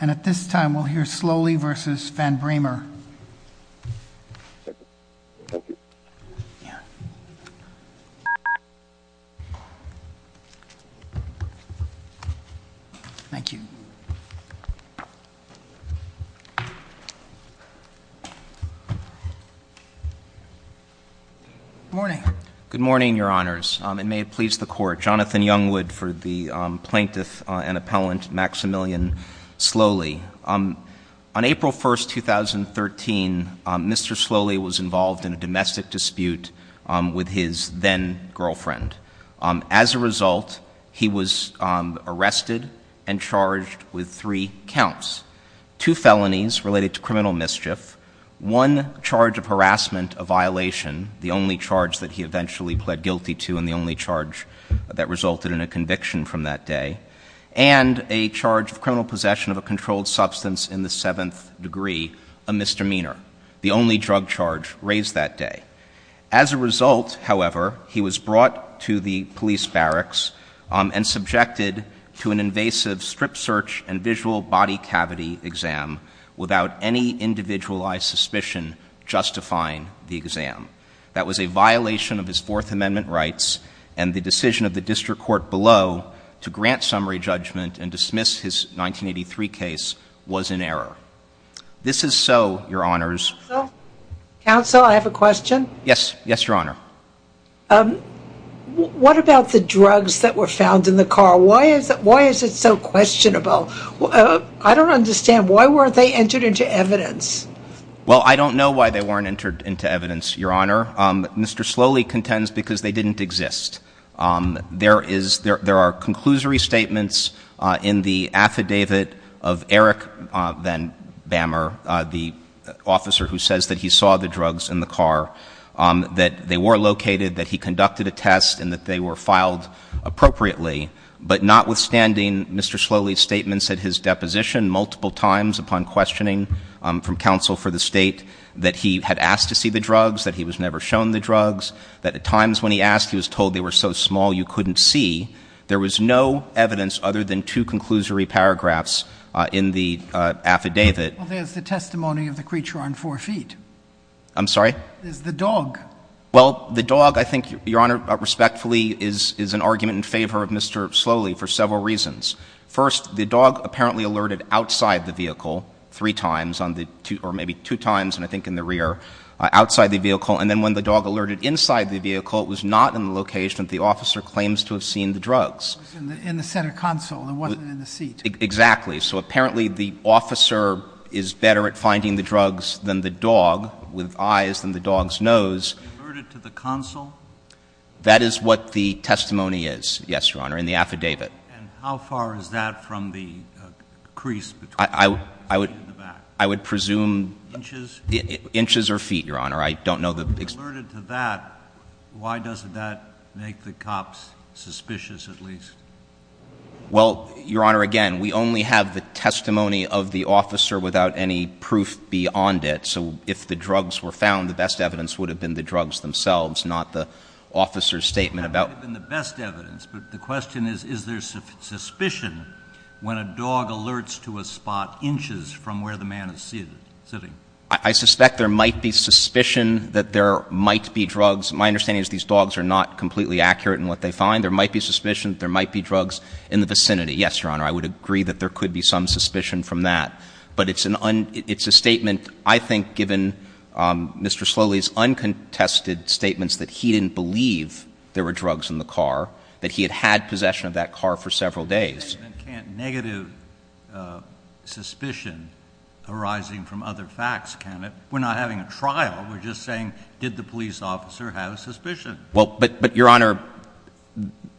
And at this time, we'll hear Slowley v. Van Breamer. Thank you. Good morning. Good morning, Your Honors. And may it please the Court, Jonathan Youngwood for the plaintiff and appellant Maximilian Slowley. On April 1, 2013, Mr. Slowley was involved in a domestic dispute with his then-girlfriend. As a result, he was arrested and charged with three counts, two felonies related to criminal mischief, one charge of harassment, a violation, the only charge that he eventually pled guilty to and the only charge that resulted in a conviction from that day, and a charge of criminal possession of a controlled substance in the seventh degree, a misdemeanor, the only drug charge raised that day. As a result, however, he was brought to the police barracks and subjected to an invasive strip search and visual body cavity exam without any individualized suspicion justifying the exam. That was a violation of his Fourth Amendment rights, and the decision of the district court below to grant summary judgment and dismiss his 1983 case was in error. This is so, Your Honors. Counsel, I have a question. Yes. Yes, Your Honor. What about the drugs that were found in the car? Why is it so questionable? I don't understand. Why weren't they entered into evidence? Well, I don't know why they weren't entered into evidence, Your Honor. Mr. Slowley contends because they didn't exist. There are conclusory statements in the affidavit of Eric Van Bamer, the officer who says that he saw the drugs in the car, that they were located, that he conducted a test, and that they were filed appropriately. But notwithstanding Mr. Slowley's statements at his deposition, multiple times upon questioning from counsel for the State, that he had asked to see the drugs, that he was never shown the drugs, that at times when he asked he was told they were so small you couldn't see, there was no evidence other than two conclusory paragraphs in the affidavit. Well, there's the testimony of the creature on four feet. I'm sorry? There's the dog. Well, the dog, I think, Your Honor, respectfully, is an argument in favor of Mr. Slowley for several reasons. First, the dog apparently alerted outside the vehicle three times, or maybe two times, and I think in the rear, outside the vehicle. And then when the dog alerted inside the vehicle, it was not in the location that the officer claims to have seen the drugs. It was in the center console. It wasn't in the seat. Exactly. So apparently the officer is better at finding the drugs than the dog, with eyes than the dog's nose. Alerted to the console? That is what the testimony is, yes, Your Honor, in the affidavit. And how far is that from the crease between the feet and the back? I would presume — Inches? Inches or feet, Your Honor. I don't know the — Alerted to that, why doesn't that make the cops suspicious at least? Well, Your Honor, again, we only have the testimony of the officer without any proof beyond it. So if the drugs were found, the best evidence would have been the drugs themselves, not the officer's statement about — That would have been the best evidence, but the question is, is there suspicion when a dog alerts to a spot inches from where the man is sitting? I suspect there might be suspicion that there might be drugs. My understanding is these dogs are not completely accurate in what they find. There might be suspicion that there might be drugs in the vicinity. Yes, Your Honor, I would agree that there could be some suspicion from that. But it's a statement, I think, given Mr. Sloly's uncontested statements that he didn't believe there were drugs in the car, that he had had possession of that car for several days. And can't negative suspicion arising from other facts count? We're not having a trial. We're just saying, did the police officer have a suspicion? Well, but, Your Honor,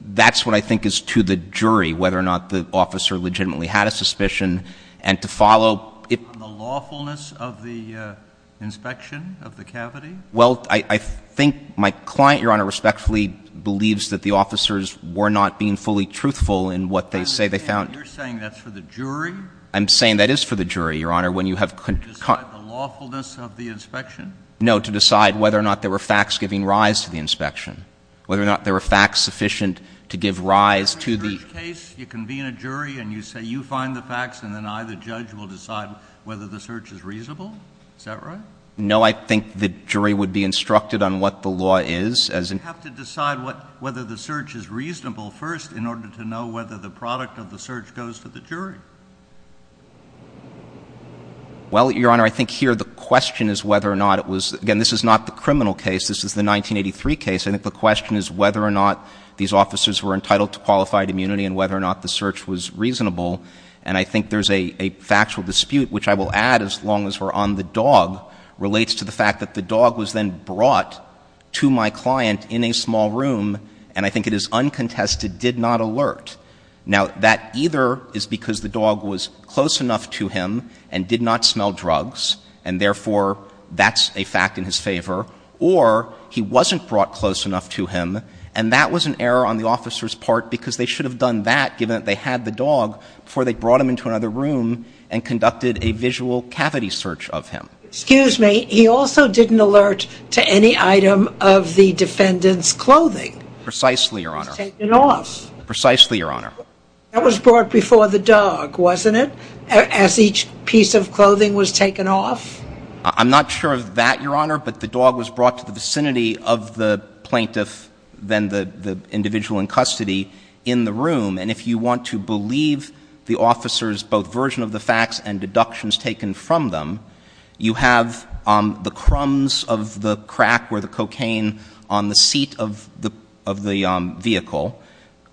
that's what I think is to the jury, whether or not the officer legitimately had a suspicion. And to follow — On the lawfulness of the inspection of the cavity? Well, I think my client, Your Honor, respectfully believes that the officers were not being fully truthful in what they say they found. You're saying that's for the jury? I'm saying that is for the jury, Your Honor, when you have — To decide the lawfulness of the inspection? No, to decide whether or not there were facts giving rise to the inspection, whether or not there were facts sufficient to give rise to the — In a search case, you convene a jury and you say, you find the facts and then I, the judge, will decide whether the search is reasonable? Is that right? No, I think the jury would be instructed on what the law is, as in — You have to decide whether the search is reasonable first in order to know whether the product of the search goes to the jury. Well, Your Honor, I think here the question is whether or not it was — Again, this is not the criminal case. This is the 1983 case. I think the question is whether or not these officers were entitled to qualified immunity and whether or not the search was reasonable. And I think there's a factual dispute, which I will add as long as we're on the dog, relates to the fact that the dog was then brought to my client in a small room, and I think it is uncontested, did not alert. Now, that either is because the dog was close enough to him and did not smell drugs, and therefore that's a fact in his favor, or he wasn't brought close enough to him, and that was an error on the officer's part because they should have done that, given that they had the dog, before they brought him into another room and conducted a visual cavity search of him. Excuse me. He also didn't alert to any item of the defendant's clothing. Precisely, Your Honor. He was taken off. Precisely, Your Honor. That was brought before the dog, wasn't it, as each piece of clothing was taken off? I'm not sure of that, Your Honor, but the dog was brought to the vicinity of the plaintiff, then the individual in custody, in the room. And if you want to believe the officer's both version of the facts and deductions taken from them, you have the crumbs of the crack where the cocaine on the seat of the vehicle.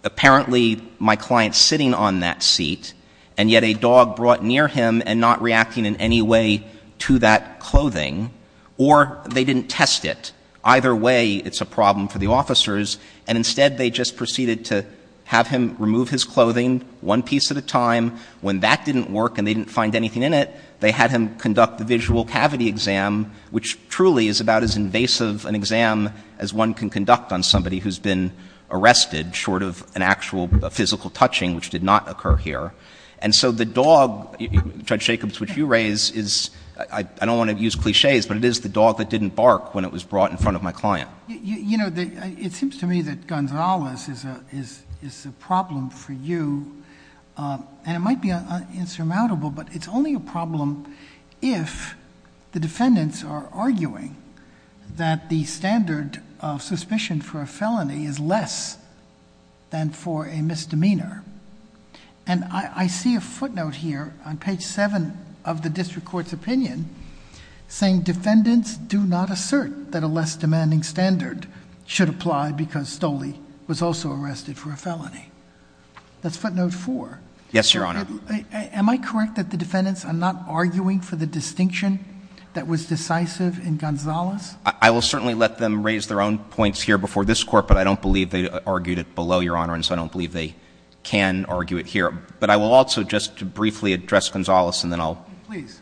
Apparently, my client's sitting on that seat, and yet a dog brought near him and not reacting in any way to that clothing, or they didn't test it. Either way, it's a problem for the officers, and instead they just proceeded to have him remove his clothing one piece at a time. When that didn't work and they didn't find anything in it, they had him conduct the visual cavity exam, which truly is about as invasive an exam as one can conduct on somebody who's been arrested, short of an actual physical touching, which did not occur here. And so the dog, Judge Jacobs, which you raise is, I don't want to use clichés, but it is the dog that didn't bark when it was brought in front of my client. You know, it seems to me that Gonzalez is a problem for you, and it might be insurmountable, but it's only a problem if the defendants are arguing that the standard of suspicion for a felony is less than for a misdemeanor. And I see a footnote here on page 7 of the district court's opinion saying defendants do not assert that a less demanding standard should apply because Stolle was also arrested for a felony. That's footnote 4. Yes, Your Honor. Am I correct that the defendants are not arguing for the distinction that was decisive in Gonzalez? I will certainly let them raise their own points here before this Court, but I don't believe they argued it below, Your Honor, and so I don't believe they can argue it here. But I will also just briefly address Gonzalez, and then I'll — Please.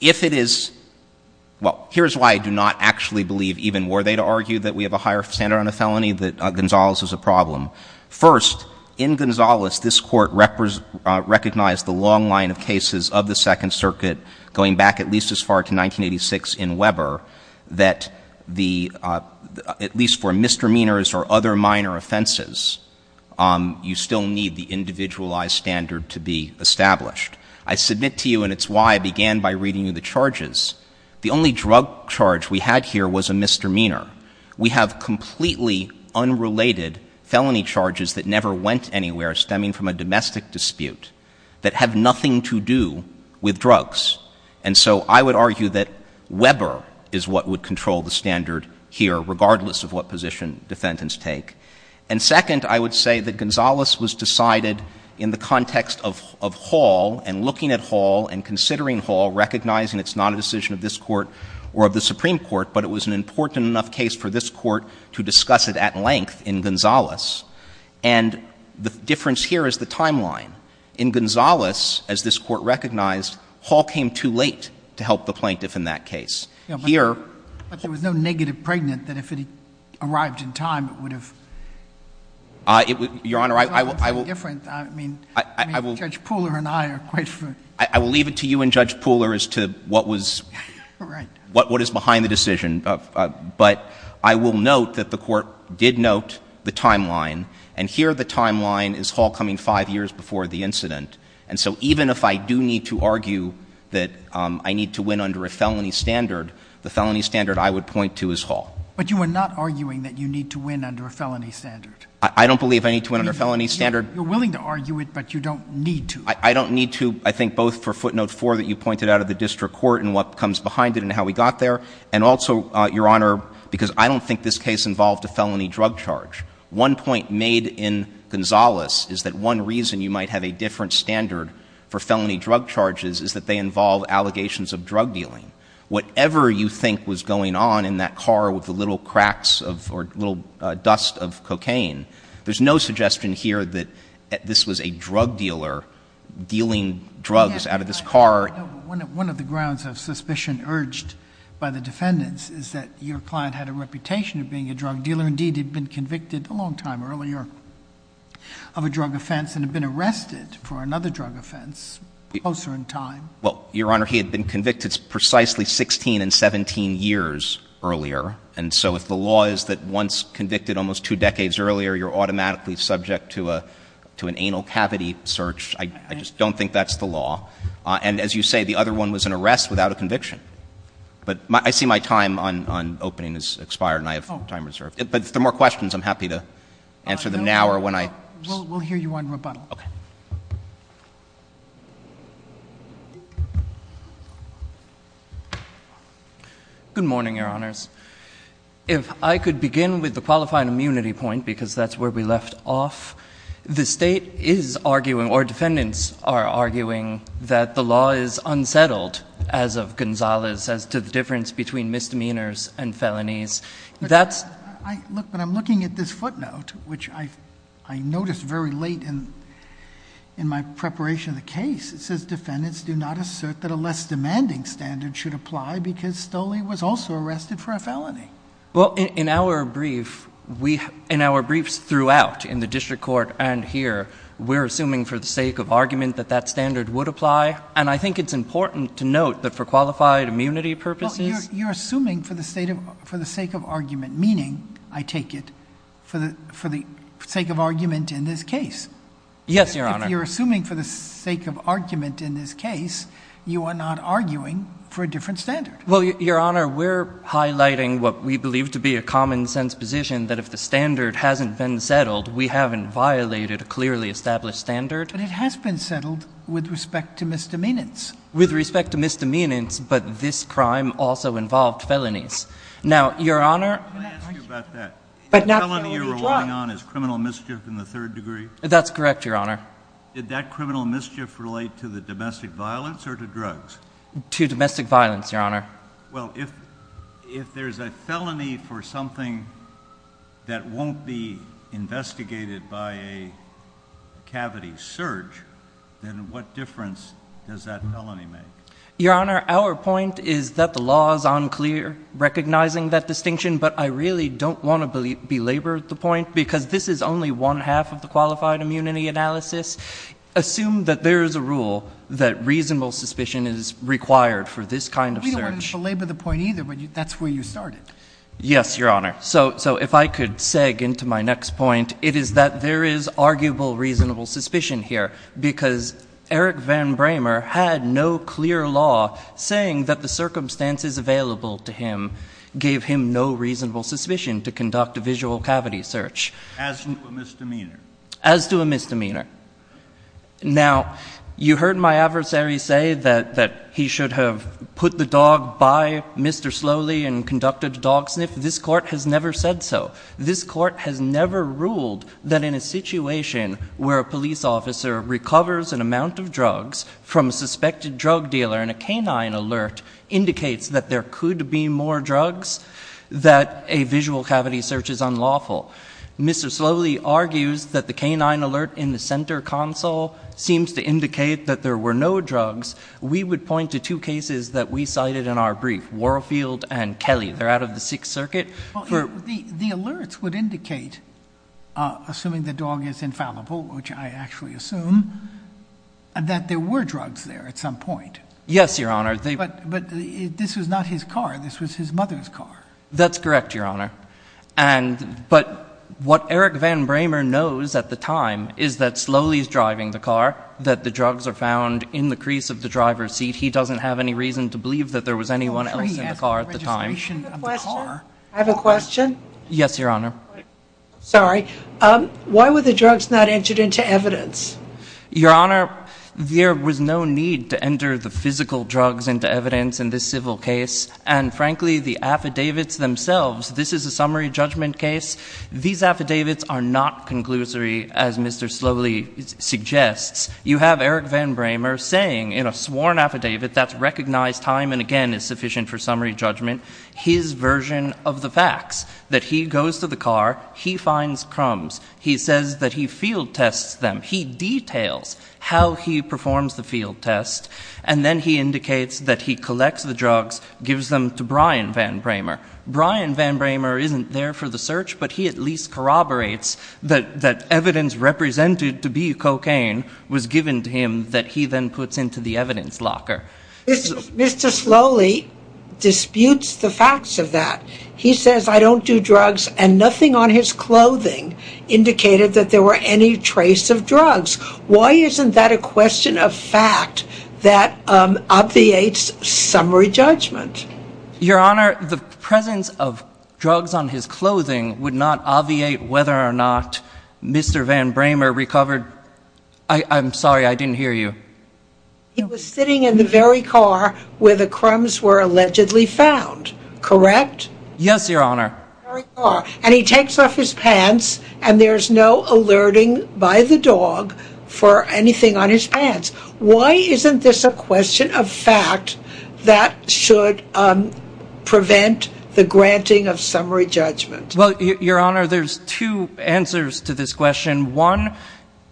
If it is — well, here's why I do not actually believe even were they to argue that we have a higher standard on a felony that Gonzalez is a problem. First, in Gonzalez, this Court recognized the long line of cases of the Second Circuit going back at least as far to 1986 in Weber that the — at least for misdemeanors or other minor offenses, you still need the individualized standard to be established. I submit to you, and it's why I began by reading you the charges, the only drug charge we had here was a misdemeanor. We have completely unrelated felony charges that never went anywhere, stemming from a domestic dispute, that have nothing to do with drugs. And so I would argue that Weber is what would control the standard here, regardless of what position defendants take. And second, I would say that Gonzalez was decided in the context of Hall and looking at Hall and considering Hall, recognizing it's not a decision of this Court or of the Supreme Court, but it was an important enough case for this Court to discuss it at length in Gonzalez. And the difference here is the timeline. In Gonzalez, as this Court recognized, Hall came too late to help the plaintiff in that case. Here — But there was no negative pregnant that if it had arrived in time, it would have — Your Honor, I will — Judge Pooler and I are quite — I will leave it to you and Judge Pooler as to what was — Right. What is behind the decision. But I will note that the Court did note the timeline, and here the timeline is Hall coming five years before the incident. And so even if I do need to argue that I need to win under a felony standard, the felony standard I would point to is Hall. But you are not arguing that you need to win under a felony standard. I don't believe I need to win under a felony standard. You're willing to argue it, but you don't need to. I don't need to, I think, both for footnote four that you pointed out of the district court and what comes behind it and how we got there, and also, Your Honor, because I don't think this case involved a felony drug charge. One point made in Gonzalez is that one reason you might have a different standard for felony drug charges is that they involve allegations of drug dealing. Whatever you think was going on in that car with the little cracks of — or little dust of cocaine, there's no suggestion here that this was a drug dealer dealing drugs out of this car. One of the grounds of suspicion urged by the defendants is that your client had a reputation of being a drug dealer. Indeed, he'd been convicted a long time earlier of a drug offense and had been arrested for another drug offense closer in time. Well, Your Honor, he had been convicted precisely 16 and 17 years earlier. And so if the law is that once convicted almost two decades earlier, you're automatically subject to an anal cavity search, I just don't think that's the law. And as you say, the other one was an arrest without a conviction. But I see my time on opening has expired and I have time reserved. But if there are more questions, I'm happy to answer them now or when I — We'll hear you on rebuttal. Okay. Good morning, Your Honors. If I could begin with the qualifying immunity point because that's where we left off. The state is arguing, or defendants are arguing, that the law is unsettled as of Gonzales as to the difference between misdemeanors and felonies. That's — Look, but I'm looking at this footnote, which I noticed very late in my preparation of the case. It says defendants do not assert that a less demanding standard should apply because Stoley was also arrested for a felony. Well, in our briefs throughout in the district court and here, we're assuming for the sake of argument that that standard would apply. And I think it's important to note that for qualified immunity purposes — Well, you're assuming for the sake of argument, meaning, I take it, for the sake of argument in this case. Yes, Your Honor. If you're assuming for the sake of argument in this case, you are not arguing for a different standard. Well, Your Honor, we're highlighting what we believe to be a common-sense position that if the standard hasn't been settled, we haven't violated a clearly established standard. But it has been settled with respect to misdemeanors. With respect to misdemeanors, but this crime also involved felonies. Now, Your Honor — Can I ask you about that? The felony you're relying on is criminal mischief in the third degree? That's correct, Your Honor. Did that criminal mischief relate to the domestic violence or to drugs? To domestic violence, Your Honor. Well, if there's a felony for something that won't be investigated by a cavity search, then what difference does that felony make? Your Honor, our point is that the law is unclear recognizing that distinction, but I really don't want to belabor the point because this is only one half of the qualified immunity analysis. Assume that there is a rule that reasonable suspicion is required for this kind of search. We don't want to belabor the point either, but that's where you started. Yes, Your Honor. So if I could seg into my next point, it is that there is arguable reasonable suspicion here because Eric Van Bramer had no clear law saying that the circumstances available to him gave him no reasonable suspicion to conduct a visual cavity search. As to a misdemeanor? As to a misdemeanor. Now, you heard my adversary say that he should have put the dog by Mr. Slowly and conducted a dog sniff. This Court has never said so. This Court has never ruled that in a situation where a police officer recovers an amount of drugs from a suspected drug dealer and a canine alert indicates that there could be more drugs, that a visual cavity search is unlawful. Mr. Slowly argues that the canine alert in the center console seems to indicate that there were no drugs. We would point to two cases that we cited in our brief, Warfield and Kelly. They're out of the Sixth Circuit. The alerts would indicate, assuming the dog is infallible, which I actually assume, that there were drugs there at some point. Yes, Your Honor. But this was not his car. This was his mother's car. That's correct, Your Honor. But what Eric Van Bramer knows at the time is that Slowly is driving the car, that the drugs are found in the crease of the driver's seat. He doesn't have any reason to believe that there was anyone else in the car at the time. I have a question. Yes, Your Honor. Sorry. Why were the drugs not entered into evidence? Your Honor, there was no need to enter the physical drugs into evidence in this civil case. And, frankly, the affidavits themselves, this is a summary judgment case. These affidavits are not conclusory, as Mr. Slowly suggests. You have Eric Van Bramer saying in a sworn affidavit that's recognized time and again is sufficient for summary judgment, his version of the facts, that he goes to the car, he finds crumbs. He says that he field tests them. He details how he performs the field test. And then he indicates that he collects the drugs, gives them to Brian Van Bramer. Brian Van Bramer isn't there for the search, but he at least corroborates that evidence represented to be cocaine was given to him that he then puts into the evidence locker. Mr. Slowly disputes the facts of that. He says, I don't do drugs, and nothing on his clothing indicated that there were any trace of drugs. Why isn't that a question of fact that obviates summary judgment? Your Honor, the presence of drugs on his clothing would not obviate whether or not Mr. Van Bramer recovered. I'm sorry. I didn't hear you. He was sitting in the very car where the crumbs were allegedly found, correct? Yes, Your Honor. And he takes off his pants, and there's no alerting by the dog for anything on his pants. Why isn't this a question of fact that should prevent the granting of summary judgment? Well, Your Honor, there's two answers to this question. One,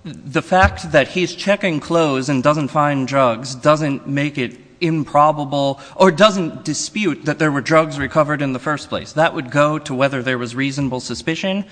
the fact that he's checking clothes and doesn't find drugs doesn't make it improbable or doesn't dispute that there were drugs recovered in the first place. That would go to whether there was reasonable suspicion.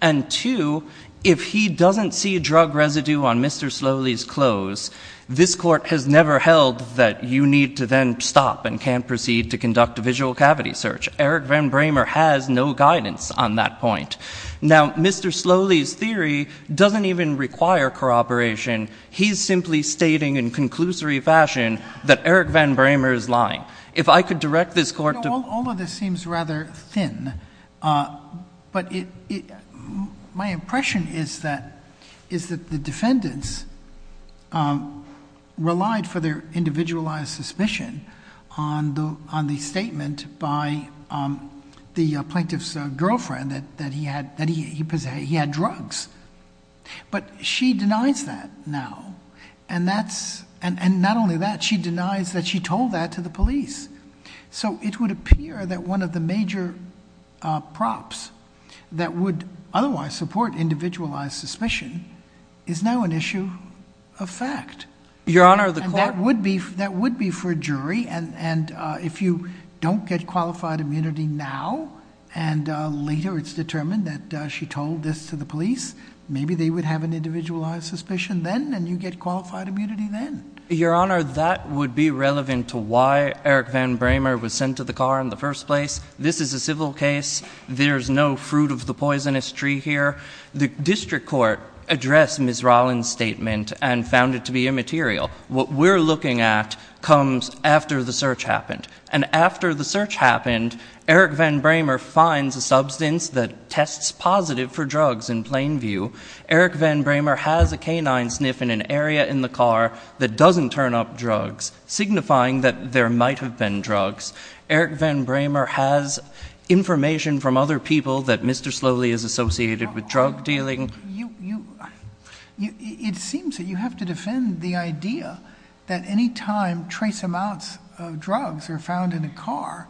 And two, if he doesn't see drug residue on Mr. Slowly's clothes, this Court has never held that you need to then stop and can't proceed to conduct a visual cavity search. Eric Van Bramer has no guidance on that point. Now, Mr. Slowly's theory doesn't even require corroboration. He's simply stating in conclusory fashion that Eric Van Bramer is lying. If I could direct this Court to— All of this seems rather thin, but my impression is that the defendants relied for their individualized suspicion on the statement by the plaintiff's girlfriend that he had drugs. But she denies that now. And not only that, she denies that she told that to the police. So it would appear that one of the major props that would otherwise support individualized suspicion is now an issue of fact. Your Honor, the Court— And that would be for a jury. And if you don't get qualified immunity now and later it's determined that she told this to the police, maybe they would have an individualized suspicion then and you get qualified immunity then. Your Honor, that would be relevant to why Eric Van Bramer was sent to the car in the first place. This is a civil case. There's no fruit of the poisonous tree here. The district court addressed Ms. Rollins' statement and found it to be immaterial. What we're looking at comes after the search happened. And after the search happened, Eric Van Bramer finds a substance that tests positive for drugs in plain view. Eric Van Bramer has a canine sniff in an area in the car that doesn't turn up drugs, signifying that there might have been drugs. Eric Van Bramer has information from other people that Mr. Slowly is associated with drug dealing. It seems that you have to defend the idea that any time trace amounts of drugs are found in a car,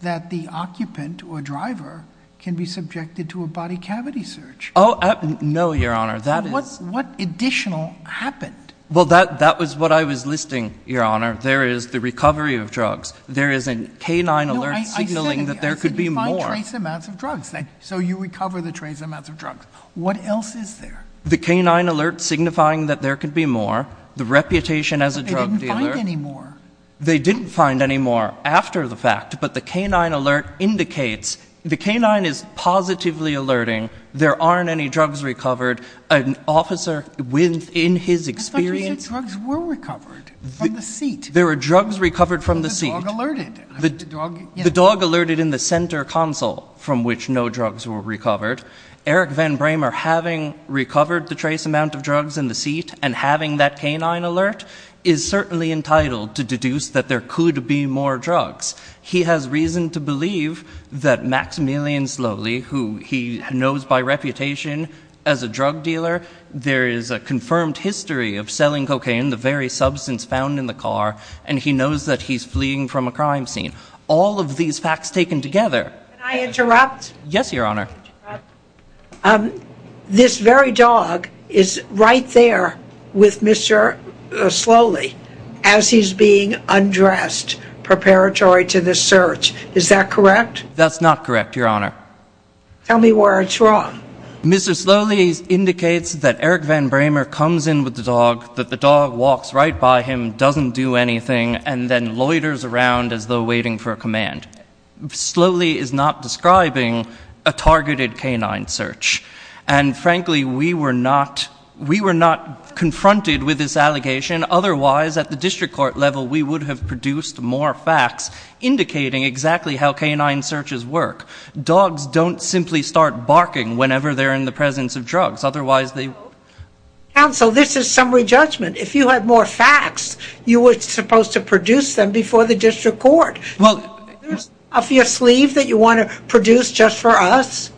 that the occupant or driver can be subjected to a body cavity search. Oh, no, Your Honor. What additional happened? Well, that was what I was listing, Your Honor. There is the recovery of drugs. There is a canine alert signaling that there could be more. I said you find trace amounts of drugs. So you recover the trace amounts of drugs. What else is there? The canine alert signifying that there could be more. The reputation as a drug dealer. But they didn't find any more. They didn't find any more after the fact. But the canine alert indicates the canine is positively alerting. There aren't any drugs recovered. An officer within his experience. I thought you said drugs were recovered from the seat. There were drugs recovered from the seat. But the dog alerted. The dog alerted in the center console from which no drugs were recovered. Eric Van Bramer, having recovered the trace amount of drugs in the seat and having that canine alert, is certainly entitled to deduce that there could be more drugs. He has reason to believe that Maximilian Sloly, who he knows by reputation as a drug dealer, there is a confirmed history of selling cocaine, the very substance found in the car, and he knows that he's fleeing from a crime scene. All of these facts taken together. Can I interrupt? Yes, Your Honor. This very dog is right there with Mr. Sloly as he's being undressed preparatory to this search. Is that correct? That's not correct, Your Honor. Tell me where it's wrong. Mr. Sloly indicates that Eric Van Bramer comes in with the dog, that the dog walks right by him, doesn't do anything, and then loiters around as though waiting for a command. Sloly is not describing a targeted canine search. And, frankly, we were not confronted with this allegation. Otherwise, at the district court level, we would have produced more facts indicating exactly how canine searches work. Dogs don't simply start barking whenever they're in the presence of drugs. Otherwise, they would. Counsel, this is summary judgment. If you had more facts, you were supposed to produce them before the district court. Is there something off your sleeve that you want to produce just for us?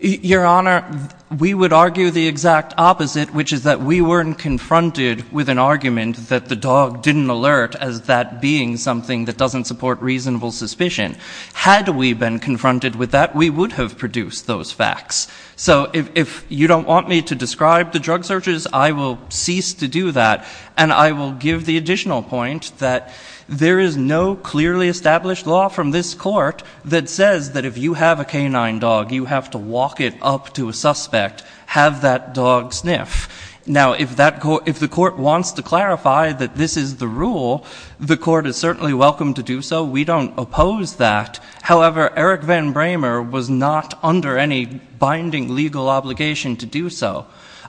Your Honor, we would argue the exact opposite, which is that we weren't confronted with an argument that the dog didn't alert as that being something that doesn't support reasonable suspicion. Had we been confronted with that, we would have produced those facts. So if you don't want me to describe the drug searches, I will cease to do that. And I will give the additional point that there is no clearly established law from this court that says that if you have a canine dog, you have to walk it up to a suspect, have that dog sniff. Now, if the court wants to clarify that this is the rule, the court is certainly welcome to do so. We don't oppose that. However, Eric Van Bramer was not under any binding legal obligation to do so.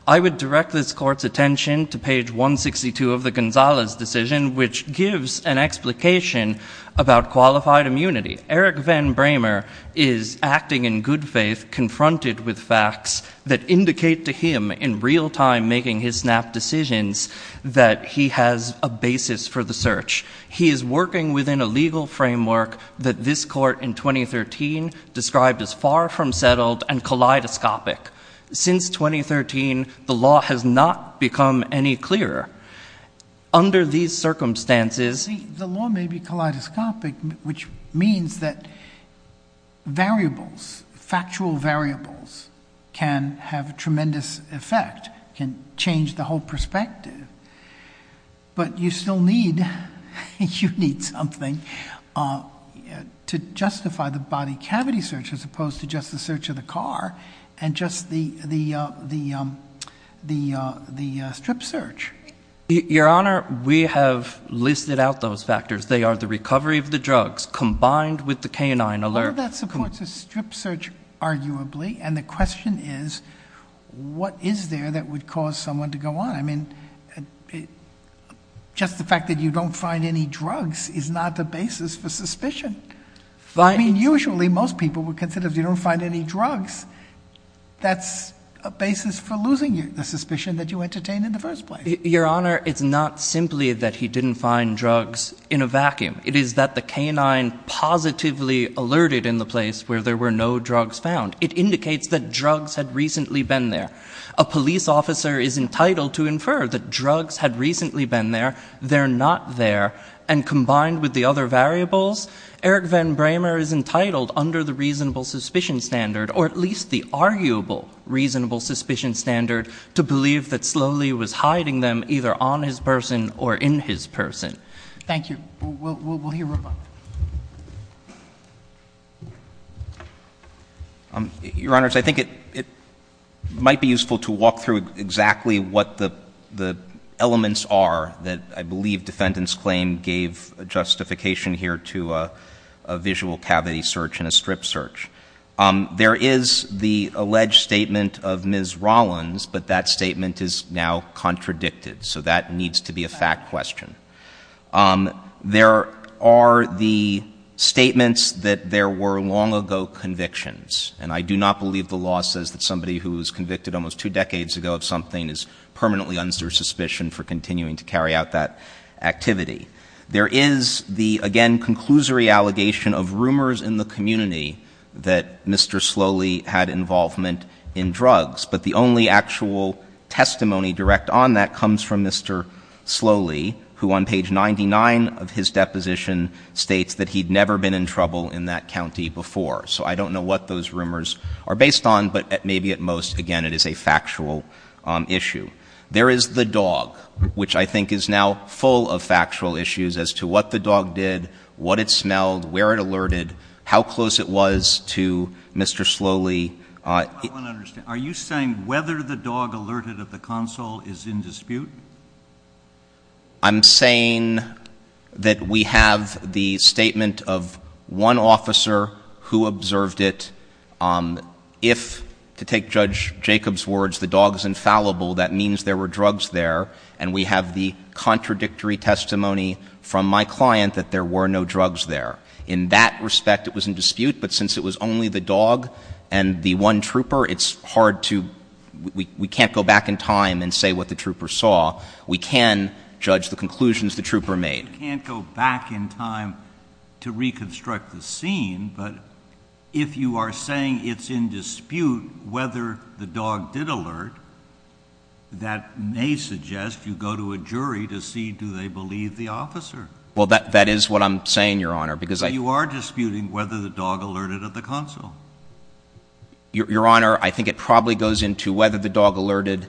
I would direct this court's attention to page 162 of the Gonzalez decision, which gives an explication about qualified immunity. Eric Van Bramer is acting in good faith, confronted with facts that indicate to him in real time making his SNAP decisions that he has a basis for the search. He is working within a legal framework that this court in 2013 described as far from settled and kaleidoscopic. Since 2013, the law has not become any clearer. Under these circumstances, the law may be kaleidoscopic, which means that variables, factual variables, can have tremendous effect, can change the whole perspective. But you still need something to justify the body cavity search as opposed to just the search of the car and just the strip search. Your Honor, we have listed out those factors. They are the recovery of the drugs combined with the canine alert. All of that supports a strip search, arguably, and the question is what is there that would cause someone to go on? I mean, just the fact that you don't find any drugs is not the basis for suspicion. I mean, usually most people would consider if you don't find any drugs, that's a basis for losing the suspicion that you entertained in the first place. Your Honor, it's not simply that he didn't find drugs in a vacuum. It is that the canine positively alerted in the place where there were no drugs found. It indicates that drugs had recently been there. A police officer is entitled to infer that drugs had recently been there. They're not there. And combined with the other variables, Eric Van Bramer is entitled under the reasonable suspicion standard or at least the arguable reasonable suspicion standard to believe that Sloly was hiding them either on his person or in his person. Thank you. We'll hear from him. Your Honor, I think it might be useful to walk through exactly what the elements are that I believe defendant's claim gave justification here to a visual cavity search and a strip search. There is the alleged statement of Ms. Rollins, but that statement is now contradicted, so that needs to be a fact question. There are the statements that there were long ago convictions, and I do not believe the law says that somebody who was convicted almost two decades ago of something is permanently under suspicion for continuing to carry out that activity. There is the, again, conclusory allegation of rumors in the community that Mr. Sloly had involvement in drugs, but the only actual testimony direct on that comes from Mr. Sloly, who on page 99 of his deposition states that he'd never been in trouble in that county before. So I don't know what those rumors are based on, but maybe at most, again, it is a factual issue. There is the dog, which I think is now full of factual issues as to what the dog did, what it smelled, where it alerted, how close it was to Mr. Sloly. I want to understand. Are you saying whether the dog alerted at the console is in dispute? I'm saying that we have the statement of one officer who observed it. If, to take Judge Jacobs' words, the dog is infallible, that means there were drugs there, and we have the contradictory testimony from my client that there were no drugs there. In that respect, it was in dispute, but since it was only the dog and the one trooper, it's hard to we can't go back in time and say what the trooper saw. We can judge the conclusions the trooper made. You can't go back in time to reconstruct the scene, but if you are saying it's in dispute whether the dog did alert, that may suggest you go to a jury to see do they believe the officer. Well, that is what I'm saying, Your Honor, because I You are disputing whether the dog alerted at the console. Your Honor, I think it probably goes into whether the dog alerted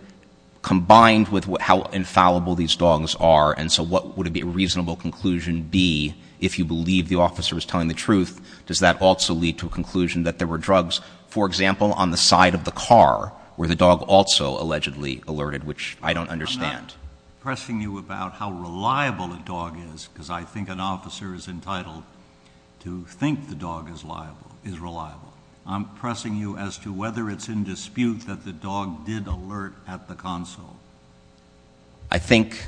combined with how infallible these dogs are, and so what would a reasonable conclusion be if you believe the officer was telling the truth? Does that also lead to a conclusion that there were drugs, for example, on the side of the car where the dog also allegedly alerted, which I don't understand? I'm not pressing you about how reliable a dog is, because I think an officer is entitled to think the dog is reliable. I'm pressing you as to whether it's in dispute that the dog did alert at the console. I think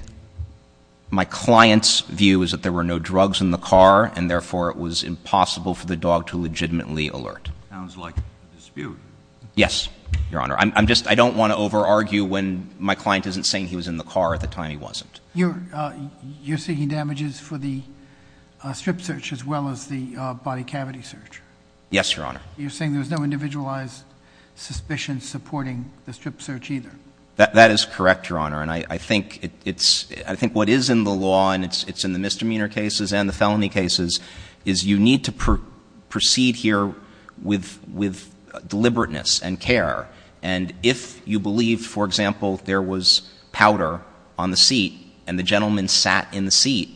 my client's view is that there were no drugs in the car, and therefore it was impossible for the dog to legitimately alert. Sounds like a dispute. Yes, Your Honor. I don't want to over-argue when my client isn't saying he was in the car at the time he wasn't. You're seeking damages for the strip search as well as the body cavity search? Yes, Your Honor. You're saying there was no individualized suspicion supporting the strip search either? That is correct, Your Honor, and I think what is in the law, and it's in the misdemeanor cases and the felony cases, is you need to proceed here with deliberateness and care, and if you believe, for example, there was powder on the seat and the gentleman sat in the seat,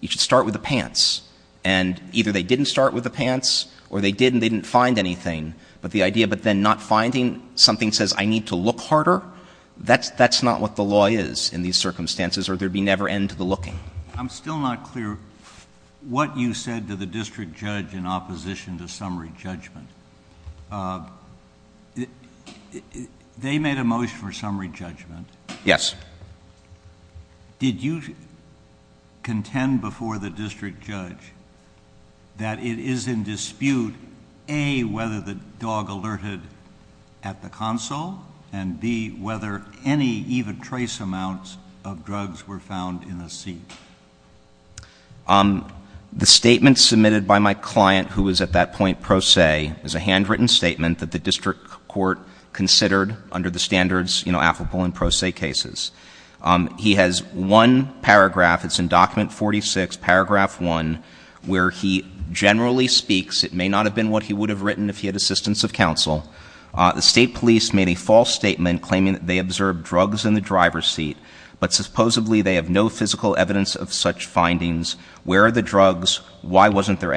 you should start with the pants. And either they didn't start with the pants or they did and they didn't find anything, but the idea of then not finding something says I need to look harder, that's not what the law is in these circumstances or there'd be never end to the looking. I'm still not clear what you said to the district judge in opposition to summary judgment. They made a motion for summary judgment. Yes. Did you contend before the district judge that it is in dispute, A, whether the dog alerted at the console and, B, whether any even trace amounts of drugs were found in the seat? The statement submitted by my client, who was at that point pro se, is a handwritten statement that the district court considered under the standards, you know, applicable in pro se cases. He has one paragraph, it's in Document 46, Paragraph 1, where he generally speaks, it may not have been what he would have written if he had assistance of counsel. The state police made a false statement claiming that they observed drugs in the driver's seat, but supposedly they have no physical evidence of such findings. Where are the drugs? Why wasn't there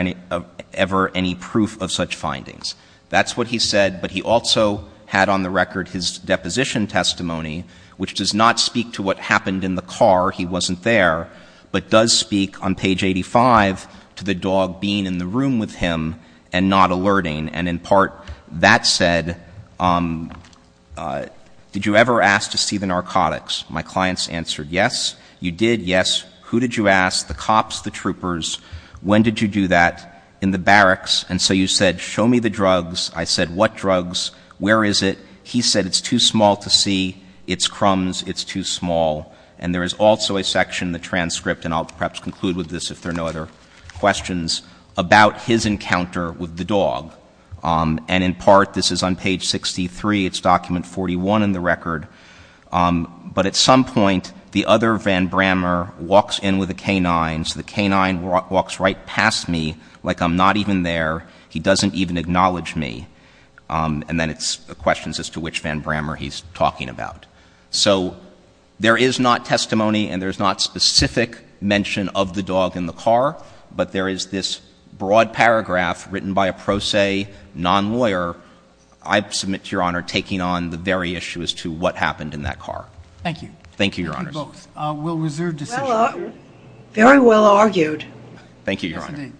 ever any proof of such findings? That's what he said, but he also had on the record his deposition testimony, which does not speak to what happened in the car, he wasn't there, but does speak on page 85 to the dog being in the room with him and not alerting. And in part that said, did you ever ask to see the narcotics? My clients answered, yes, you did, yes. Who did you ask? The cops, the troopers. When did you do that? In the barracks. And so you said, show me the drugs. I said, what drugs? Where is it? He said, it's too small to see. It's crumbs. It's too small. And there is also a section in the transcript, and I'll perhaps conclude with this if there are no other questions, about his encounter with the dog. And in part, this is on page 63, it's document 41 in the record, but at some point the other Van Brammer walks in with a K-9, so the K-9 walks right past me like I'm not even there. He doesn't even acknowledge me. And then it's a question as to which Van Brammer he's talking about. So there is not testimony, and there's not specific mention of the dog in the car, but there is this broad paragraph written by a pro se non-lawyer, I submit to Your Honor, taking on the very issue as to what happened in that car. Thank you. Thank you, Your Honors. Thank you both. We'll reserve decision. Very well argued. Thank you, Your Honor. Yes, indeed.